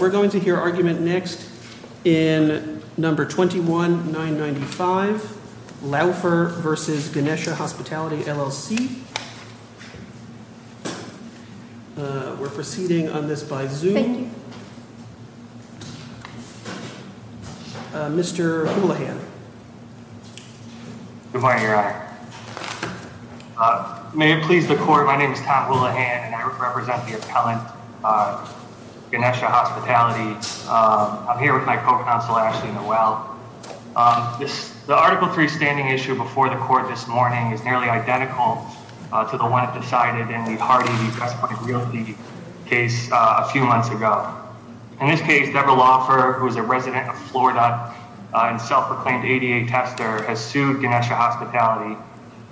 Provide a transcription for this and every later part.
We're going to hear argument next in number 21-995, Laufer v. Ganesha Hospitality LLC. We're proceeding on this by Zoom. Mr. Houlihan. Good morning, Your Honor. May it please the court, my name is Tom Houlihan, and I represent the appellant, Ganesha Hospitality. I'm here with my co-counsel, Ashley Newell. The Article 3 standing issue before the court this morning is nearly identical to the one decided in the Hardy v. Press Point Realty case a few months ago. In this case, Deborah Laufer, who is a resident of Florida and self-proclaimed ADA tester, has sued Ganesha Hospitality,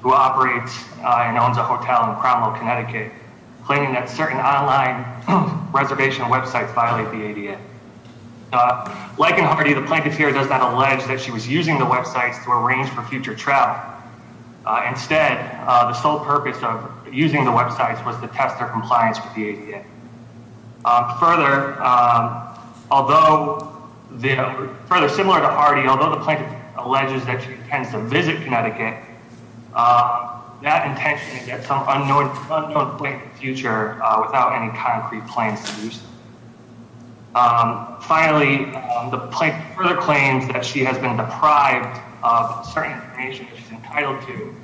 who operates and owns a hotel in Cromwell, Connecticut, claiming that certain online reservation websites violate the ADA. Like in Hardy, the plaintiff here does not allege that she was using the websites to arrange for future travel. Instead, the sole purpose of using the websites was to test their compliance with the ADA. Further, similar to Hardy, although the plaintiff alleges that she intends to visit Connecticut, that intention is to get some unknown point in the future without any concrete plans to use them. Finally, the plaintiff further claims that she has been deprived of certain information that she's entitled to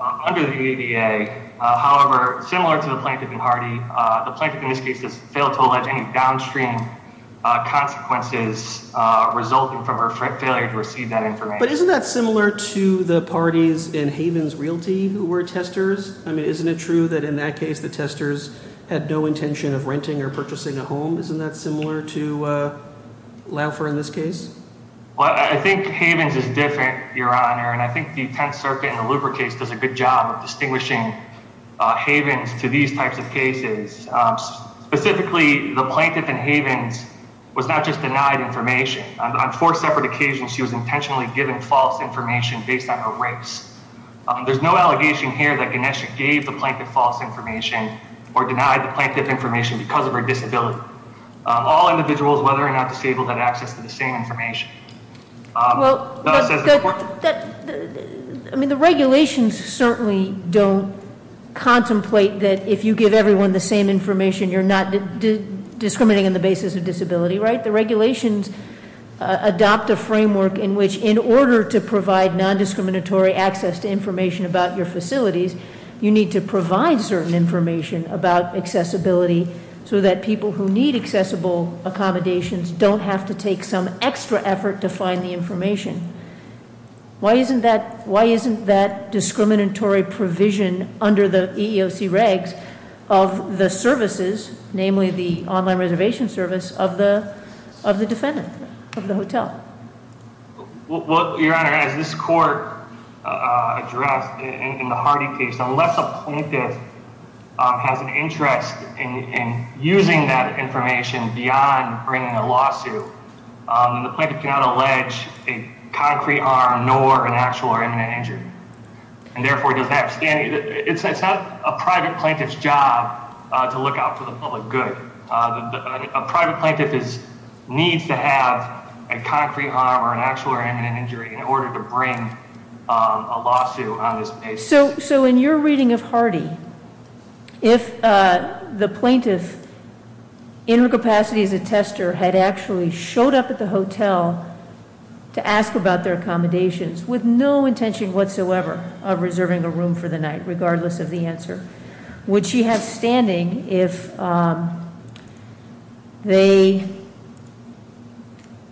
under the ADA. However, similar to the plaintiff in Hardy, the plaintiff in this case has failed to allege any downstream consequences resulting from her failure to receive that information. But isn't that similar to the parties in Havens Realty who were testers? I mean, isn't it true that in that case the testers had no intention of renting or purchasing a home? Isn't that similar to Laufer in this case? Well, I think Havens is different, Your Honor, and I think the Tenth Circuit and the Luper case does a good job of distinguishing Havens to these types of cases. Specifically, the plaintiff in Havens was not just denied information. On four separate occasions, she was intentionally given false information based on her race. There's no allegation here that Ganesha gave the plaintiff false information or denied the plaintiff information because of her disability. All individuals, whether or not disabled, have access to the same information. Well, I mean, the regulations certainly don't contemplate that if you give everyone the same information, you're not discriminating on the basis of disability, right? The regulations adopt a framework in which in order to provide non-discriminatory access to information about your facilities, you need to provide certain information about accessibility so that people who need accessible accommodations don't have to take some extra effort to find the information. Why isn't that discriminatory provision under the EEOC regs of the services, namely the online reservation service of the defendant of the hotel? Well, Your Honor, as this court addressed in the Hardy case, unless a plaintiff has an interest in using that information beyond bringing a lawsuit, the plaintiff cannot allege a concrete arm nor an actual or imminent injury. And therefore, it's not a private plaintiff's job to look out for the public good. A private plaintiff needs to have a concrete arm or an actual or imminent injury in order to bring a lawsuit on this case. So in your reading of Hardy, if the plaintiff, in her capacity as a tester, had actually showed up at the hotel to ask about their accommodations, with no intention whatsoever of reserving a room for the night, regardless of the answer, would she have standing if they,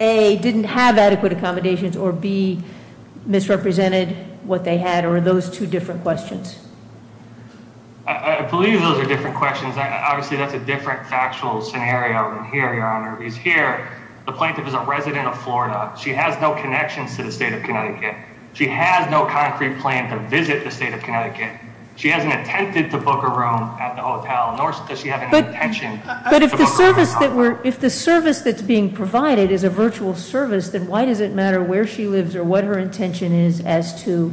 A, didn't have adequate accommodations, or B, misrepresented what they had, or those two different questions? I believe those are different questions. Obviously, that's a different factual scenario than here, Your Honor. Because here, the plaintiff is a resident of Florida. She has no connections to the state of Connecticut. She has no concrete plan to visit the state of Connecticut. She hasn't attempted to book a room at the hotel, nor does she have any intention to book a room at the hotel. But if the service that's being provided is a virtual service, then why does it matter where she lives or what her intention is as to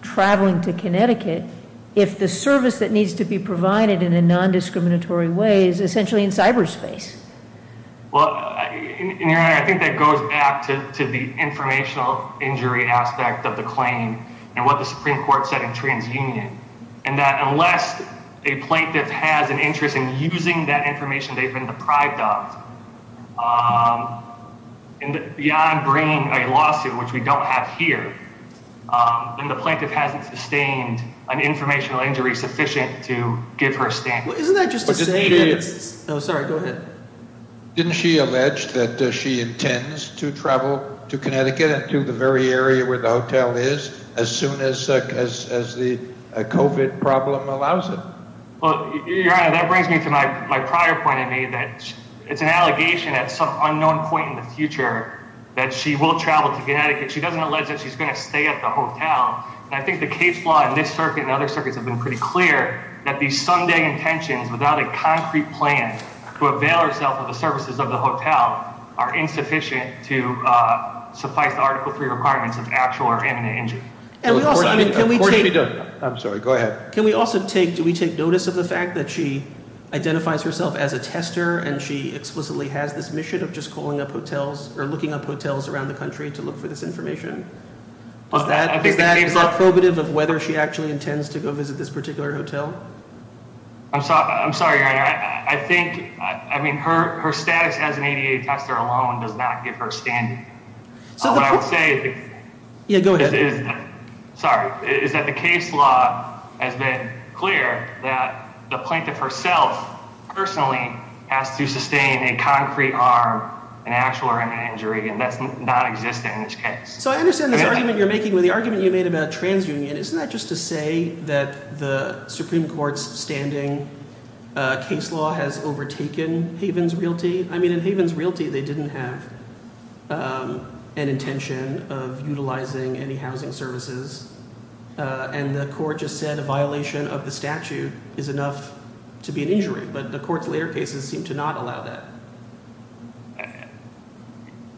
traveling to Connecticut if the service that needs to be provided in a non-discriminatory way is essentially in cyberspace? Well, Your Honor, I think that goes back to the informational injury aspect of the claim and what the Supreme Court said in TransUnion, and that unless a plaintiff has an interest in using that information they've been deprived of, beyond bringing a lawsuit, which we don't have here, then the plaintiff hasn't sustained an informational injury sufficient to give her standing. Isn't that just to say that it's – oh, sorry, go ahead. Didn't she allege that she intends to travel to Connecticut and to the very area where the hotel is as soon as the COVID problem allows it? Well, Your Honor, that brings me to my prior point that it's an allegation at some unknown point in the future that she will travel to Connecticut. She doesn't allege that she's going to stay at the hotel. And I think the case law in this circuit and other circuits have been pretty clear that these Sunday intentions without a concrete plan to avail herself of the services of the hotel are insufficient to suffice the Article III requirements of actual or imminent injury. Of course we don't. I'm sorry, go ahead. Can we also take – do we take notice of the fact that she identifies herself as a tester and she explicitly has this mission of just calling up hotels or looking up hotels around the country to look for this information? Is that probative of whether she actually intends to go visit this particular hotel? I'm sorry, Your Honor. I think – I mean, her status as an ADA tester alone does not give her standing. What I would say – Yeah, go ahead. Sorry. Is that the case law has been clear that the plaintiff herself personally has to sustain a concrete arm in actual or imminent injury, and that's nonexistent in this case. So I understand this argument you're making with the argument you made about transunion. And isn't that just to say that the Supreme Court's standing case law has overtaken Havens Realty? I mean, in Havens Realty they didn't have an intention of utilizing any housing services, and the court just said a violation of the statute is enough to be an injury, but the court's later cases seem to not allow that.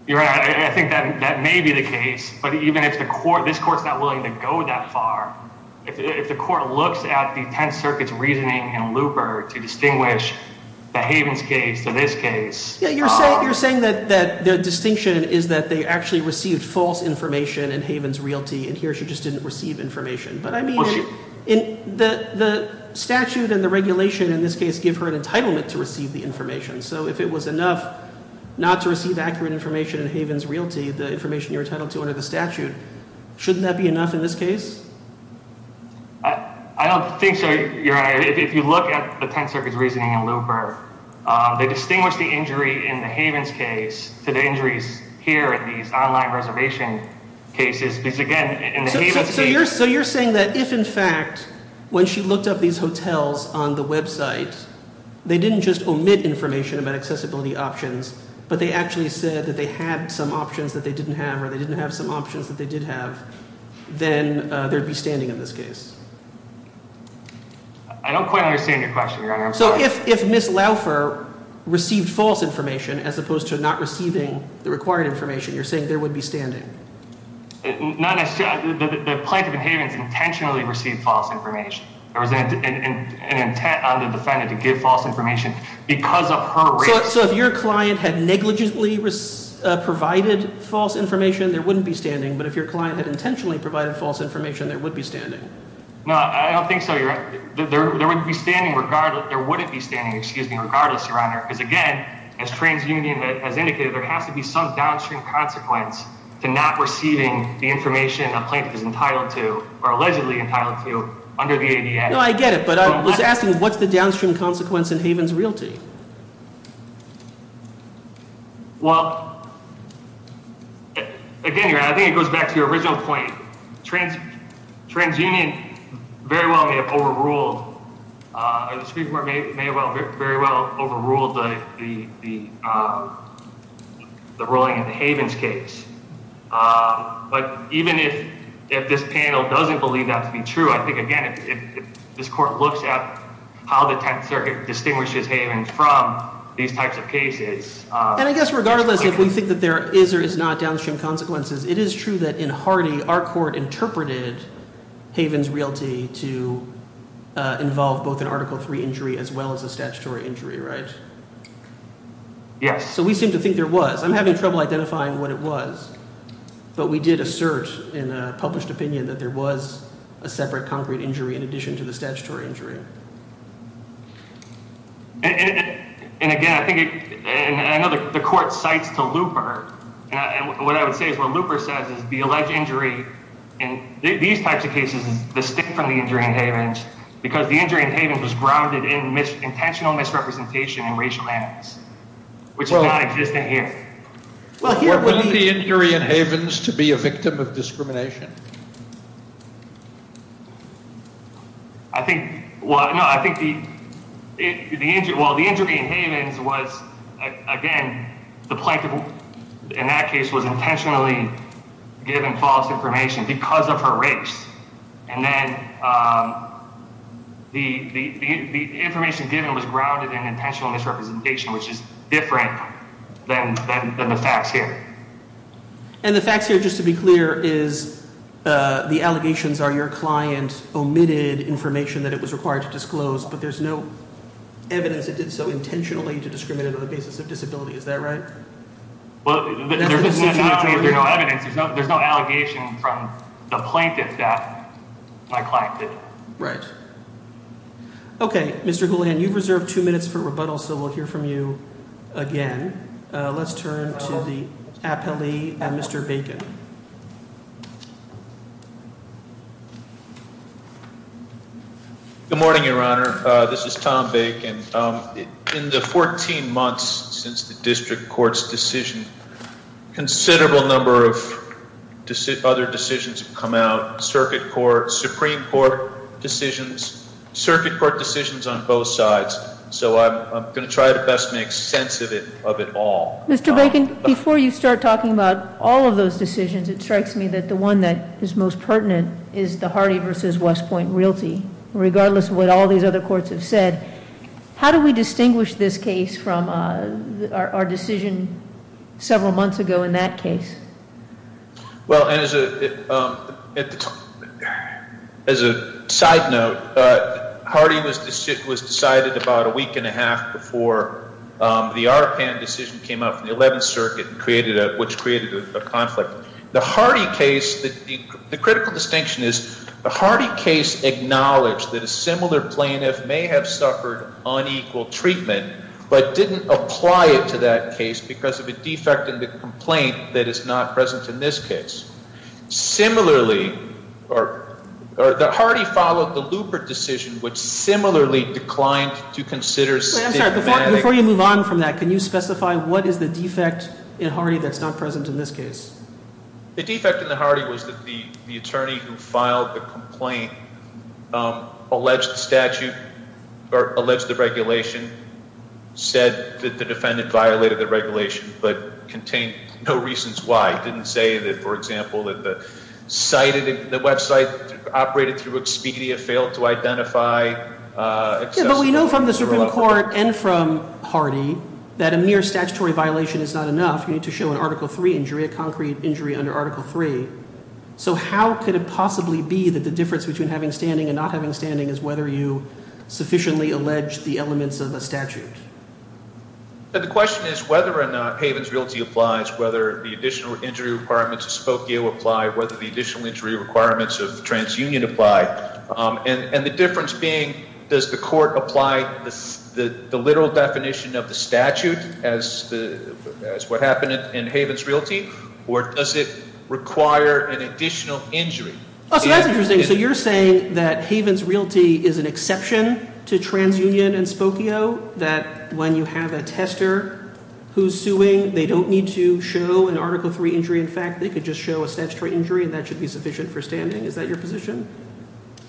Your Honor, I think that may be the case, but even if the court – this court's not willing to go that far, if the court looks at the Tenth Circuit's reasoning and looper to distinguish the Havens case to this case – Yeah, you're saying that the distinction is that they actually received false information in Havens Realty, and here she just didn't receive information. But I mean, the statute and the regulation in this case give her an entitlement to receive the information. So if it was enough not to receive accurate information in Havens Realty, the information you're entitled to under the statute, shouldn't that be enough in this case? I don't think so, Your Honor. If you look at the Tenth Circuit's reasoning and looper, they distinguish the injury in the Havens case to the injuries here in these online reservation cases, because, again, in the Havens case – but they actually said that they had some options that they didn't have or they didn't have some options that they did have, then there would be standing in this case. I don't quite understand your question, Your Honor. I'm sorry. So if Ms. Laufer received false information as opposed to not receiving the required information, you're saying there would be standing? Not necessarily – the plaintiff in Havens intentionally received false information. There was an intent on the defendant to give false information because of her race. So if your client had negligently provided false information, there wouldn't be standing, but if your client had intentionally provided false information, there would be standing? No, I don't think so, Your Honor. There wouldn't be standing regardless, Your Honor, because, again, as TransUnion has indicated, there has to be some downstream consequence to not receiving the information a plaintiff is entitled to or allegedly entitled to under the ADN. No, I get it, but I was asking what's the downstream consequence in Havens Realty? Well, again, Your Honor, I think it goes back to your original point. TransUnion very well may have overruled – or the Supreme Court may have very well overruled the ruling in the Havens case, but even if this panel doesn't believe that to be true, I think, again, if this court looks at how the Tenth Circuit distinguishes Havens from these types of cases— And I guess regardless if we think that there is or is not downstream consequences, it is true that in Hardy our court interpreted Havens Realty to involve both an Article III injury as well as a statutory injury, right? Yes. So we seem to think there was. I'm having trouble identifying what it was, but we did assert in a published opinion that there was a separate concrete injury in addition to the statutory injury. And, again, I think – and I know the court cites to Looper, and what I would say is what Looper says is the alleged injury in these types of cases is distinct from the injury in Havens because the injury in Havens was grounded in intentional misrepresentation and racial animus, which does not exist in here. Well, here would be— Wasn't the injury in Havens to be a victim of discrimination? I think – well, no, I think the injury in Havens was, again, the plaintiff in that case was intentionally given false information because of her race, and then the information given was grounded in intentional misrepresentation, which is different than the facts here. And the facts here, just to be clear, is the allegations are your client omitted information that it was required to disclose, but there's no evidence it did so intentionally to discriminate on the basis of disability. Is that right? There's no evidence. There's no allegation from the plaintiff that my client did it. Right. Okay, Mr. Goulahan, you've reserved two minutes for rebuttal, so we'll hear from you again. Let's turn to the appellee, Mr. Bacon. Good morning, Your Honor. This is Tom Bacon. In the 14 months since the district court's decision, a considerable number of other decisions have come out, circuit court, Supreme Court decisions, circuit court decisions on both sides, so I'm going to try to best make sense of it all. Mr. Bacon, before you start talking about all of those decisions, it strikes me that the one that is most pertinent is the Hardy v. West Point realty. Regardless of what all these other courts have said, how do we distinguish this case from our decision several months ago in that case? Well, as a side note, Hardy was decided about a week and a half before the Arpan decision came out from the 11th Circuit, which created a conflict. The Hardy case, the critical distinction is the Hardy case acknowledged that a similar plaintiff may have suffered unequal treatment but didn't apply it to that case because of a defect in the complaint that is not present in this case. Similarly, the Hardy followed the Lupert decision, which similarly declined to consider stigma. Before you move on from that, can you specify what is the defect in Hardy that's not present in this case? The defect in the Hardy was that the attorney who filed the complaint alleged the statute or alleged the regulation, said that the defendant violated the regulation but contained no reasons why. He didn't say that, for example, that the website operated through Expedia failed to identify. But we know from the Supreme Court and from Hardy that a mere statutory violation is not enough. You need to show an Article III injury, a concrete injury under Article III. So how could it possibly be that the difference between having standing and not having standing is whether you sufficiently allege the elements of a statute? The question is whether or not Haven's Realty applies, whether the additional injury requirements of Spokio apply, whether the additional injury requirements of TransUnion apply. And the difference being, does the court apply the literal definition of the statute as what happened in Haven's Realty, or does it require an additional injury? So that's interesting. So you're saying that Haven's Realty is an exception to TransUnion and Spokio, that when you have a tester who's suing, they don't need to show an Article III injury. In fact, they could just show a statutory injury, and that should be sufficient for standing. Is that your position?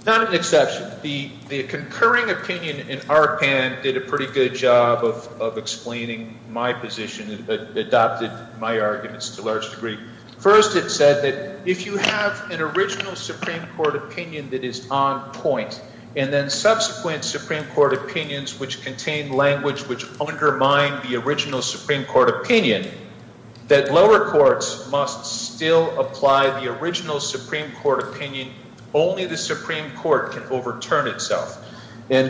Not an exception. The concurring opinion in ARPAN did a pretty good job of explaining my position and adopted my arguments to a large degree. First, it said that if you have an original Supreme Court opinion that is on point, and then subsequent Supreme Court opinions which contain language which undermine the original Supreme Court opinion, that lower courts must still apply the original Supreme Court opinion. Only the Supreme Court can overturn itself. Okay,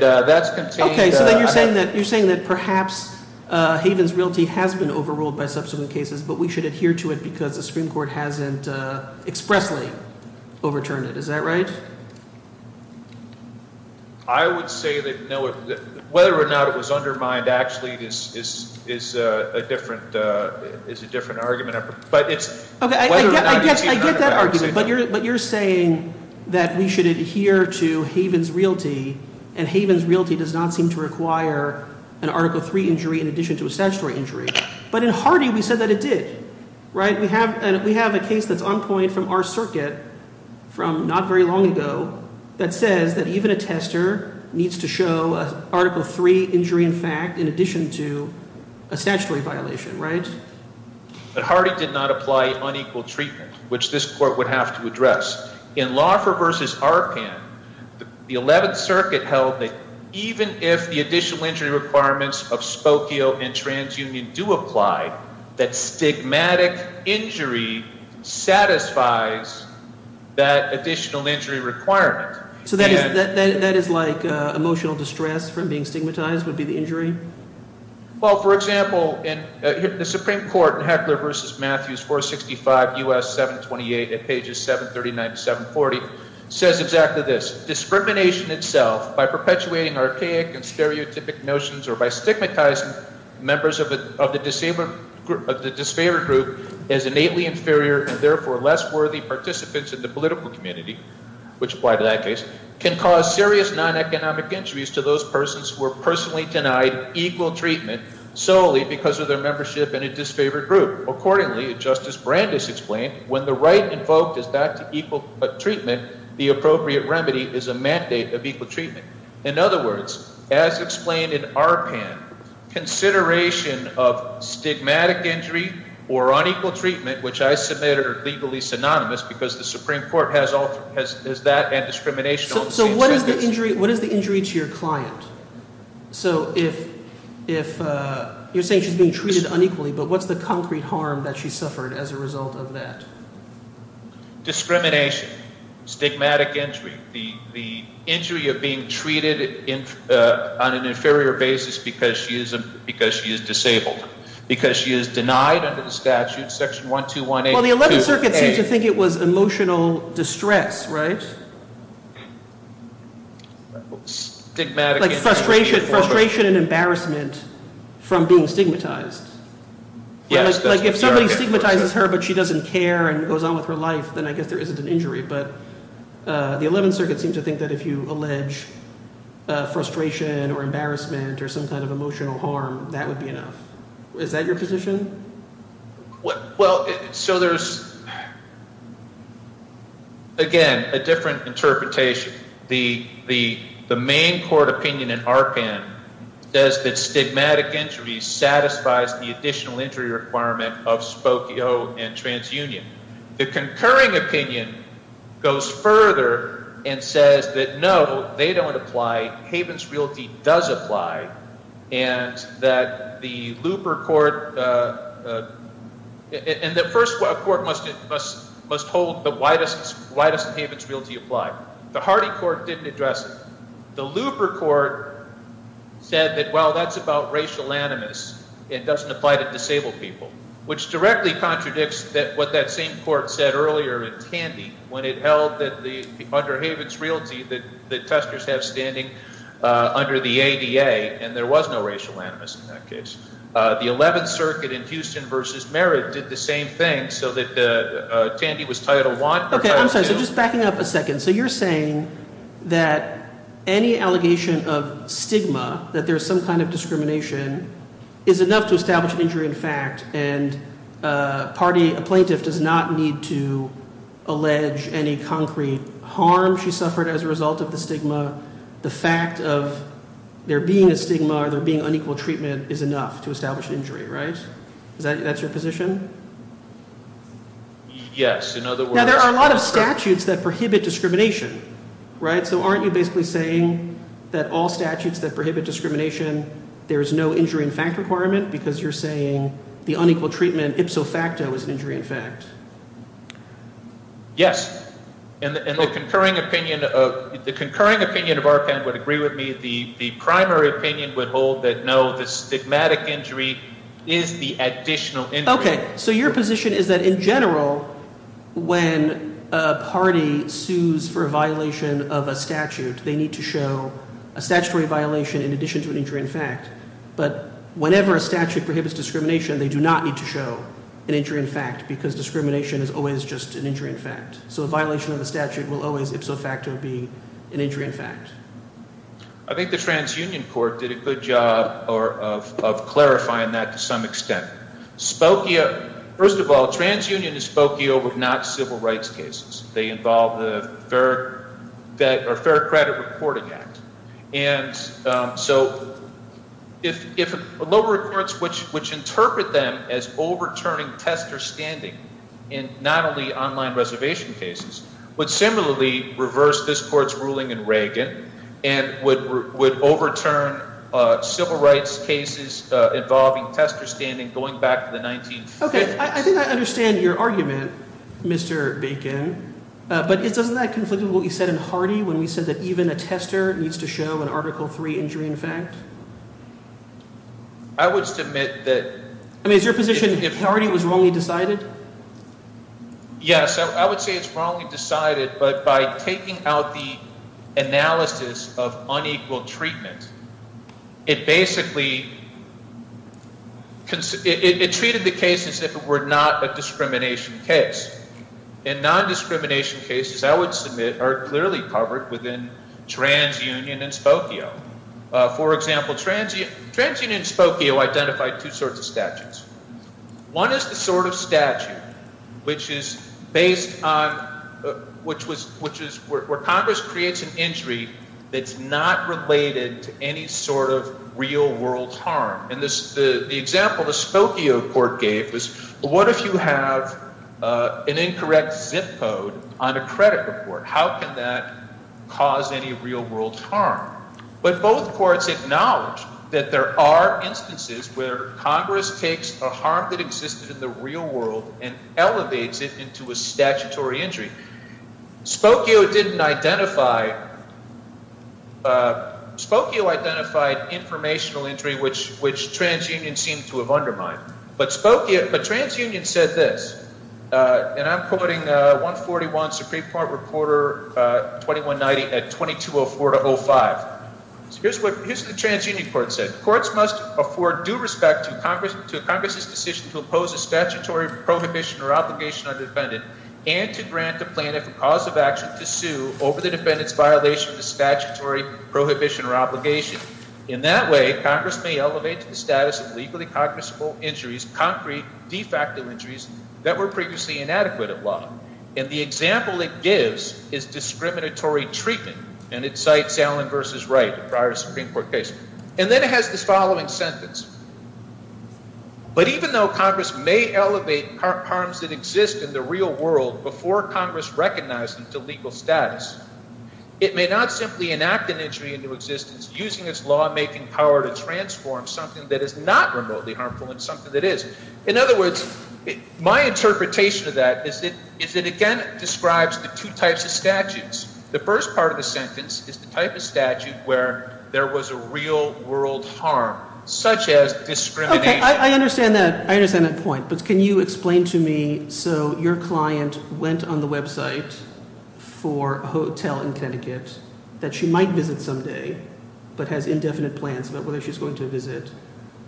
so then you're saying that perhaps Haven's Realty has been overruled by subsequent cases, but we should adhere to it because the Supreme Court hasn't expressly overturned it. Is that right? I would say that whether or not it was undermined actually is a different argument. I get that argument, but you're saying that we should adhere to Haven's Realty, and Haven's Realty does not seem to require an Article III injury in addition to a statutory injury. But in Hardy, we said that it did. We have a case that's on point from our circuit from not very long ago that says that even a tester needs to show an Article III injury in fact in addition to a statutory violation. But Hardy did not apply unequal treatment, which this court would have to address. In Laufer v. ARPAN, the Eleventh Circuit held that even if the additional injury requirements of Spokio and TransUnion do apply, that stigmatic injury satisfies that additional injury requirement. So that is like emotional distress from being stigmatized would be the injury? Well, for example, the Supreme Court in Heckler v. Matthews 465 U.S. 728 at pages 739 to 740 says exactly this. Discrimination itself by perpetuating archaic and stereotypic notions or by stigmatizing members of the disfavored group as innately inferior and therefore less worthy participants in the political community, which apply to that case, can cause serious non-economic injuries to those persons who are personally denied equal treatment solely because of their membership in a disfavored group. Accordingly, as Justice Brandes explained, when the right invoked is not to equal treatment, the appropriate remedy is a mandate of equal treatment. In other words, as explained in ARPAN, consideration of stigmatic injury or unequal treatment, which I submit are legally synonymous because the Supreme Court has that and discrimination on the same basis. So what is the injury to your client? So if you're saying she's being treated unequally, but what's the concrete harm that she suffered as a result of that? Discrimination, stigmatic injury, the injury of being treated on an inferior basis because she is disabled, because she is denied under the statute, section 1218. Well, the Eleventh Circuit seems to think it was emotional distress, right? Like frustration and embarrassment from being stigmatized. Like if somebody stigmatizes her but she doesn't care and goes on with her life, then I guess there isn't an injury. But the Eleventh Circuit seems to think that if you allege frustration or embarrassment or some kind of emotional harm, that would be enough. Is that your position? Well, so there's, again, a different interpretation. The main court opinion in ARPAN says that stigmatic injury satisfies the additional injury requirement of Spokio and TransUnion. The concurring opinion goes further and says that no, they don't apply, Havens Realty does apply. And that the looper court, and the first court must hold that why doesn't Havens Realty apply? The Hardy court didn't address it. The looper court said that, well, that's about racial animus. It doesn't apply to disabled people. Which directly contradicts what that same court said earlier in Tandy when it held that under Havens Realty that testers have standing under the ADA, and there was no racial animus in that case. The Eleventh Circuit in Houston v. Merritt did the same thing so that Tandy was Title I or Title II. Okay, I'm sorry. So just backing up a second. So you're saying that any allegation of stigma, that there's some kind of discrimination, is enough to establish an injury in fact. And a plaintiff does not need to allege any concrete harm she suffered as a result of the stigma. The fact of there being a stigma or there being unequal treatment is enough to establish an injury, right? Is that your position? Yes, in other words. Now, there are a lot of statutes that prohibit discrimination, right? So aren't you basically saying that all statutes that prohibit discrimination, there's no injury in fact requirement because you're saying the unequal treatment ipso facto is an injury in fact? Yes. And the concurring opinion of – the concurring opinion of Arkan would agree with me. The primary opinion would hold that no, the stigmatic injury is the additional injury. Okay, so your position is that in general when a party sues for a violation of a statute, they need to show a statutory violation in addition to an injury in fact. But whenever a statute prohibits discrimination, they do not need to show an injury in fact because discrimination is always just an injury in fact. So a violation of a statute will always ipso facto be an injury in fact. I think the TransUnion Court did a good job of clarifying that to some extent. Spokia – first of all, TransUnion and Spokia were not civil rights cases. They involved the Fair Credit Reporting Act. And so if lower courts which interpret them as overturning tester standing in not only online reservation cases would similarly reverse this court's ruling in Reagan and would overturn civil rights cases involving tester standing going back to the 1950s. Okay, I think I understand your argument, Mr. Bacon. But isn't that conflicted with what you said in Hardy when we said that even a tester needs to show an Article III injury in fact? I would submit that – I mean is your position that Hardy was wrongly decided? Yes, I would say it's wrongly decided, but by taking out the analysis of unequal treatment, it basically – it treated the case as if it were not a discrimination case. And non-discrimination cases, I would submit, are clearly covered within TransUnion and Spokia. For example, TransUnion and Spokia identified two sorts of statutes. One is the sort of statute which is based on – which is where Congress creates an injury that's not related to any sort of real-world harm. And the example the Spokia court gave was what if you have an incorrect zip code on a credit report? How can that cause any real-world harm? But both courts acknowledge that there are instances where Congress takes a harm that existed in the real world and elevates it into a statutory injury. Spokia didn't identify – Spokia identified informational injury which TransUnion seemed to have undermined. But Spokia – but TransUnion said this, and I'm quoting 141 Supreme Court Reporter 2190 at 2204-05. So here's what the TransUnion court said. Courts must afford due respect to Congress's decision to oppose a statutory prohibition or obligation on the defendant and to grant the plaintiff a cause of action to sue over the defendant's violation of the statutory prohibition or obligation. In that way, Congress may elevate to the status of legally cognizable injuries, concrete, de facto injuries that were previously inadequate at law. And the example it gives is discriminatory treatment, and it cites Allen v. Wright, the prior Supreme Court case. And then it has this following sentence. But even though Congress may elevate harms that exist in the real world before Congress recognizes them to legal status, it may not simply enact an injury into existence using its lawmaking power to transform something that is not remotely harmful into something that is. In other words, my interpretation of that is it again describes the two types of statutes. The first part of the sentence is the type of statute where there was a real world harm, such as discrimination. Okay, I understand that. I understand that point. But can you explain to me, so your client went on the website for a hotel in Connecticut that she might visit someday, but has indefinite plans about whether she's going to visit.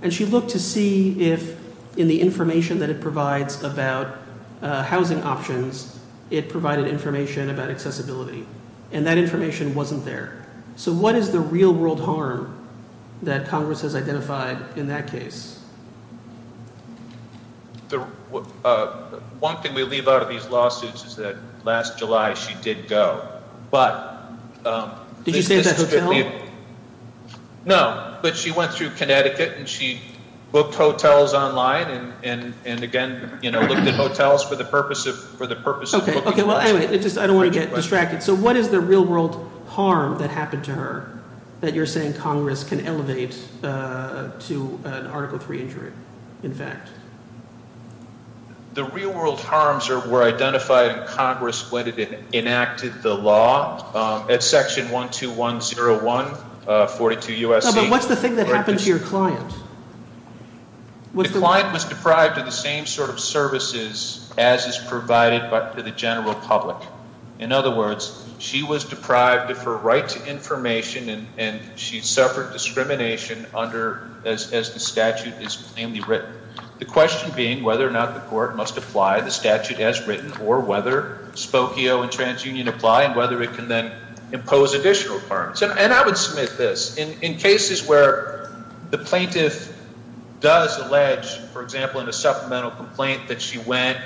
And she looked to see if, in the information that it provides about housing options, it provided information about accessibility. And that information wasn't there. So what is the real world harm that Congress has identified in that case? One thing we leave out of these lawsuits is that last July she did go. Did you say that's a hotel? No, but she went through Connecticut and she booked hotels online and, again, looked at hotels for the purpose of booking a hotel. Okay, well, anyway, I don't want to get distracted. So what is the real world harm that happened to her that you're saying Congress can elevate to an Article III injury, in fact? The real world harms were identified in Congress when it enacted the law. It's Section 12101, 42 U.S.C. No, but what's the thing that happened to your client? The client was deprived of the same sort of services as is provided to the general public. In other words, she was deprived of her right to information, and she suffered discrimination as the statute is plainly written. The question being whether or not the court must apply the statute as written or whether Spokio and TransUnion apply and whether it can then impose additional requirements. And I would submit this. In cases where the plaintiff does allege, for example, in a supplemental complaint that she went,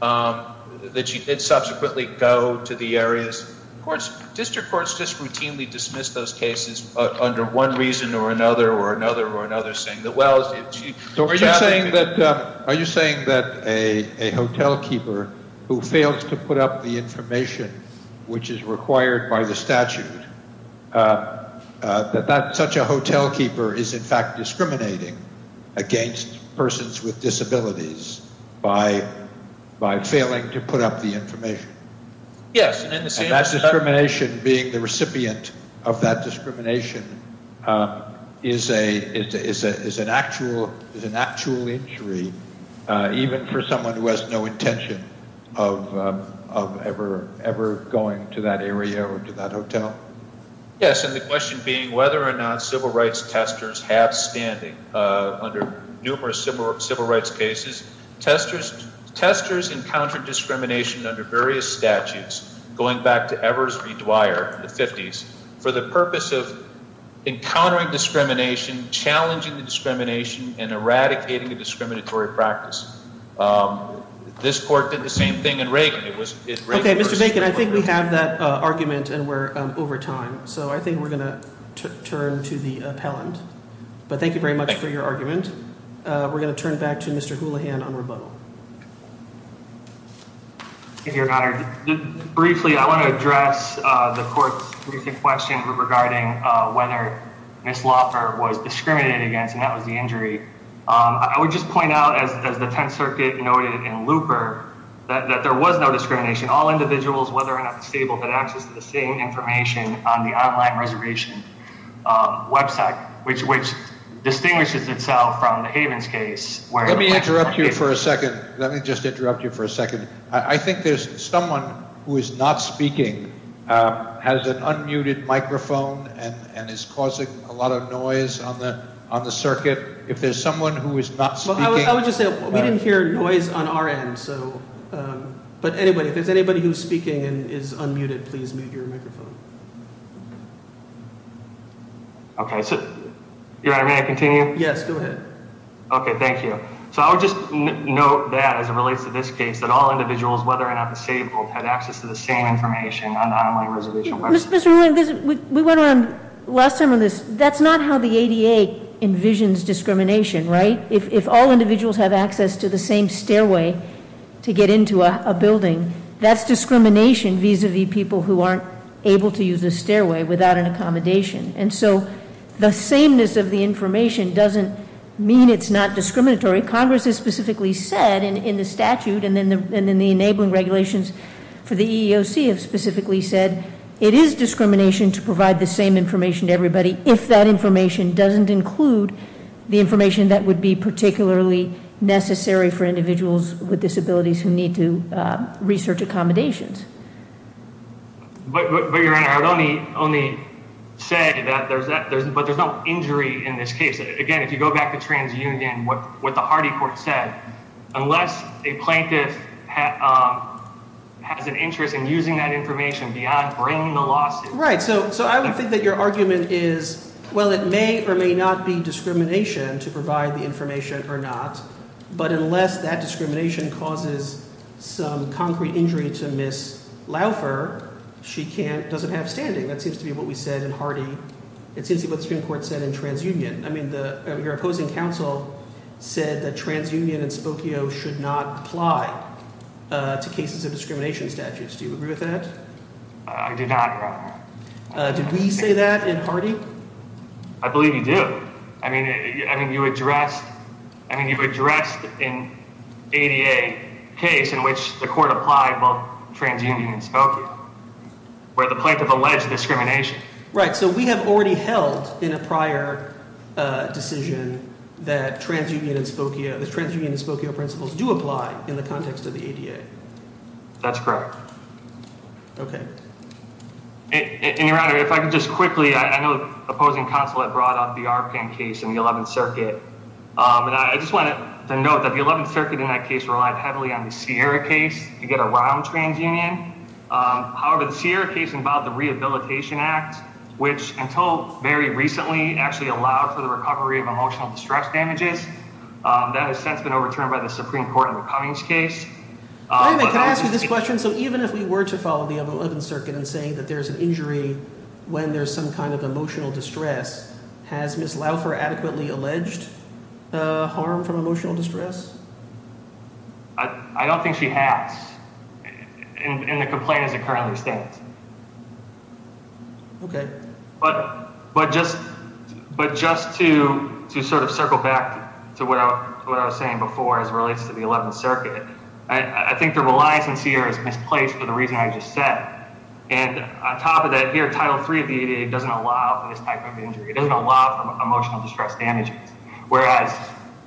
that she did subsequently go to the areas, courts, district courts just routinely dismiss those cases under one reason or another or another or another, saying that, well, she— Are you saying that a hotelkeeper who fails to put up the information which is required by the statute, that such a hotelkeeper is in fact discriminating against persons with disabilities by failing to put up the information? Yes. And that discrimination being the recipient of that discrimination is an actual injury even for someone who has no intention of ever going to that area or to that hotel? Yes, and the question being whether or not civil rights testers have standing under numerous civil rights cases. Testers encountered discrimination under various statutes going back to Evers v. Dwyer in the 50s for the purpose of encountering discrimination, challenging the discrimination, and eradicating a discriminatory practice. This court did the same thing in Reagan. Okay, Mr. Bacon, I think we have that argument and we're over time. So I think we're going to turn to the appellant. But thank you very much for your argument. We're going to turn back to Mr. Houlihan on rebuttal. Thank you, Your Honor. Briefly, I want to address the court's recent question regarding whether Ms. Loeffler was discriminated against, and that was the injury. I would just point out, as the Tenth Circuit noted in Looper, that there was no discrimination. All individuals, whether or not disabled, had access to the same information on the online reservation website, which distinguishes itself from the Havens case. Let me interrupt you for a second. Let me just interrupt you for a second. I think there's someone who is not speaking, has an unmuted microphone, and is causing a lot of noise on the circuit. If there's someone who is not speaking – I would just say we didn't hear noise on our end. But if there's anybody who is speaking and is unmuted, please mute your microphone. Your Honor, may I continue? Yes, go ahead. Okay, thank you. So I would just note that, as it relates to this case, that all individuals, whether or not disabled, had access to the same information on the online reservation website. Mr. Houlihan, we went on last time on this. That's not how the ADA envisions discrimination, right? If all individuals have access to the same stairway to get into a building, that's discrimination vis-a-vis people who aren't able to use the stairway without an accommodation. And so the sameness of the information doesn't mean it's not discriminatory. Congress has specifically said in the statute, and then the enabling regulations for the EEOC have specifically said, it is discrimination to provide the same information to everybody if that information doesn't include the information that would be particularly necessary for individuals with disabilities who need to research accommodations. But, Your Honor, I would only say that there's no injury in this case. Again, if you go back to TransUnion, what the Hardy court said, unless a plaintiff has an interest in using that information beyond bringing the lawsuit. Right, so I would think that your argument is, well, it may or may not be discrimination to provide the information or not. But unless that discrimination causes some concrete injury to Ms. Laufer, she doesn't have standing. That seems to be what we said in Hardy. It seems to be what the Supreme Court said in TransUnion. I mean, your opposing counsel said that TransUnion and Spokio should not apply to cases of discrimination statutes. Do you agree with that? I do not, Your Honor. Did we say that in Hardy? I believe you did. I mean, you addressed an ADA case in which the court applied both TransUnion and Spokio, where the plaintiff alleged discrimination. Right, so we have already held in a prior decision that TransUnion and Spokio – that TransUnion and Spokio principles do apply in the context of the ADA. That's correct. Okay. And, Your Honor, if I could just quickly – I know the opposing counsel had brought up the Arpan case in the 11th Circuit. And I just wanted to note that the 11th Circuit in that case relied heavily on the Sierra case to get around TransUnion. However, the Sierra case involved the Rehabilitation Act, which until very recently actually allowed for the recovery of emotional distress damages. That has since been overturned by the Supreme Court in the Cummings case. Wait a minute. Can I ask you this question? So even if we were to follow the 11th Circuit in saying that there's an injury when there's some kind of emotional distress, has Ms. Laufer adequately alleged harm from emotional distress? I don't think she has. In the complaint as it currently stands. Okay. But just to sort of circle back to what I was saying before as it relates to the 11th Circuit, I think the reliance on Sierra is misplaced for the reason I just said. And on top of that, here, Title III of the ADA doesn't allow for this type of injury. It doesn't allow for emotional distress damages. Whereas,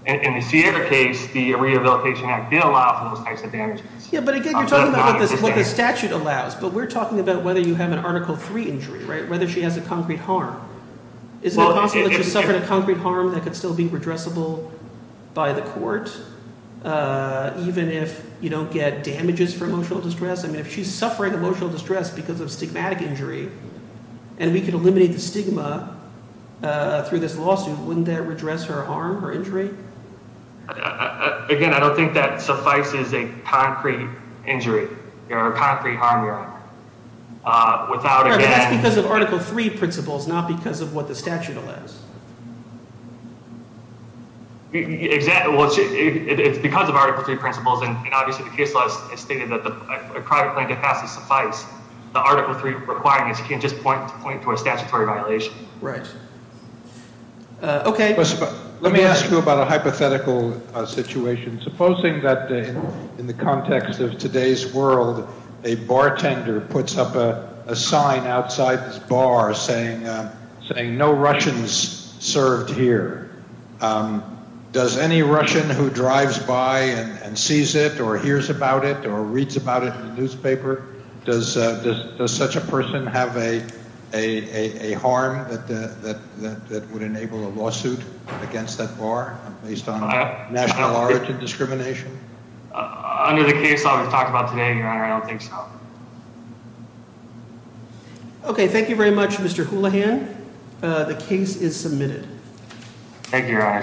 in the Sierra case, the Rehabilitation Act did allow for those types of damages. Yeah, but again, you're talking about what the statute allows, but we're talking about whether you have an Article III injury, right? Whether she has a concrete harm. Is it possible that she suffered a concrete harm that could still be redressable by the court, even if you don't get damages for emotional distress? I mean, if she's suffering emotional distress because of stigmatic injury and we could eliminate the stigma through this lawsuit, wouldn't that redress her harm or injury? Again, I don't think that suffices a concrete injury or a concrete harm. That's because of Article III principles, not because of what the statute allows. It's because of Article III principles, and obviously the case law has stated that a private plaintiff has to suffice. The Article III requirements can't just point to a statutory violation. Right. Okay. Let me ask you about a hypothetical situation. Supposing that in the context of today's world, a bartender puts up a sign outside this bar saying, no Russians served here. Does any Russian who drives by and sees it or hears about it or reads about it in the newspaper, does such a person have a harm that would enable a lawsuit against that bar based on national origin discrimination? Under the case law we've talked about today, Your Honor, I don't think so. Okay. Thank you very much, Mr. Houlihan. The case is submitted. Thank you, Your Honor.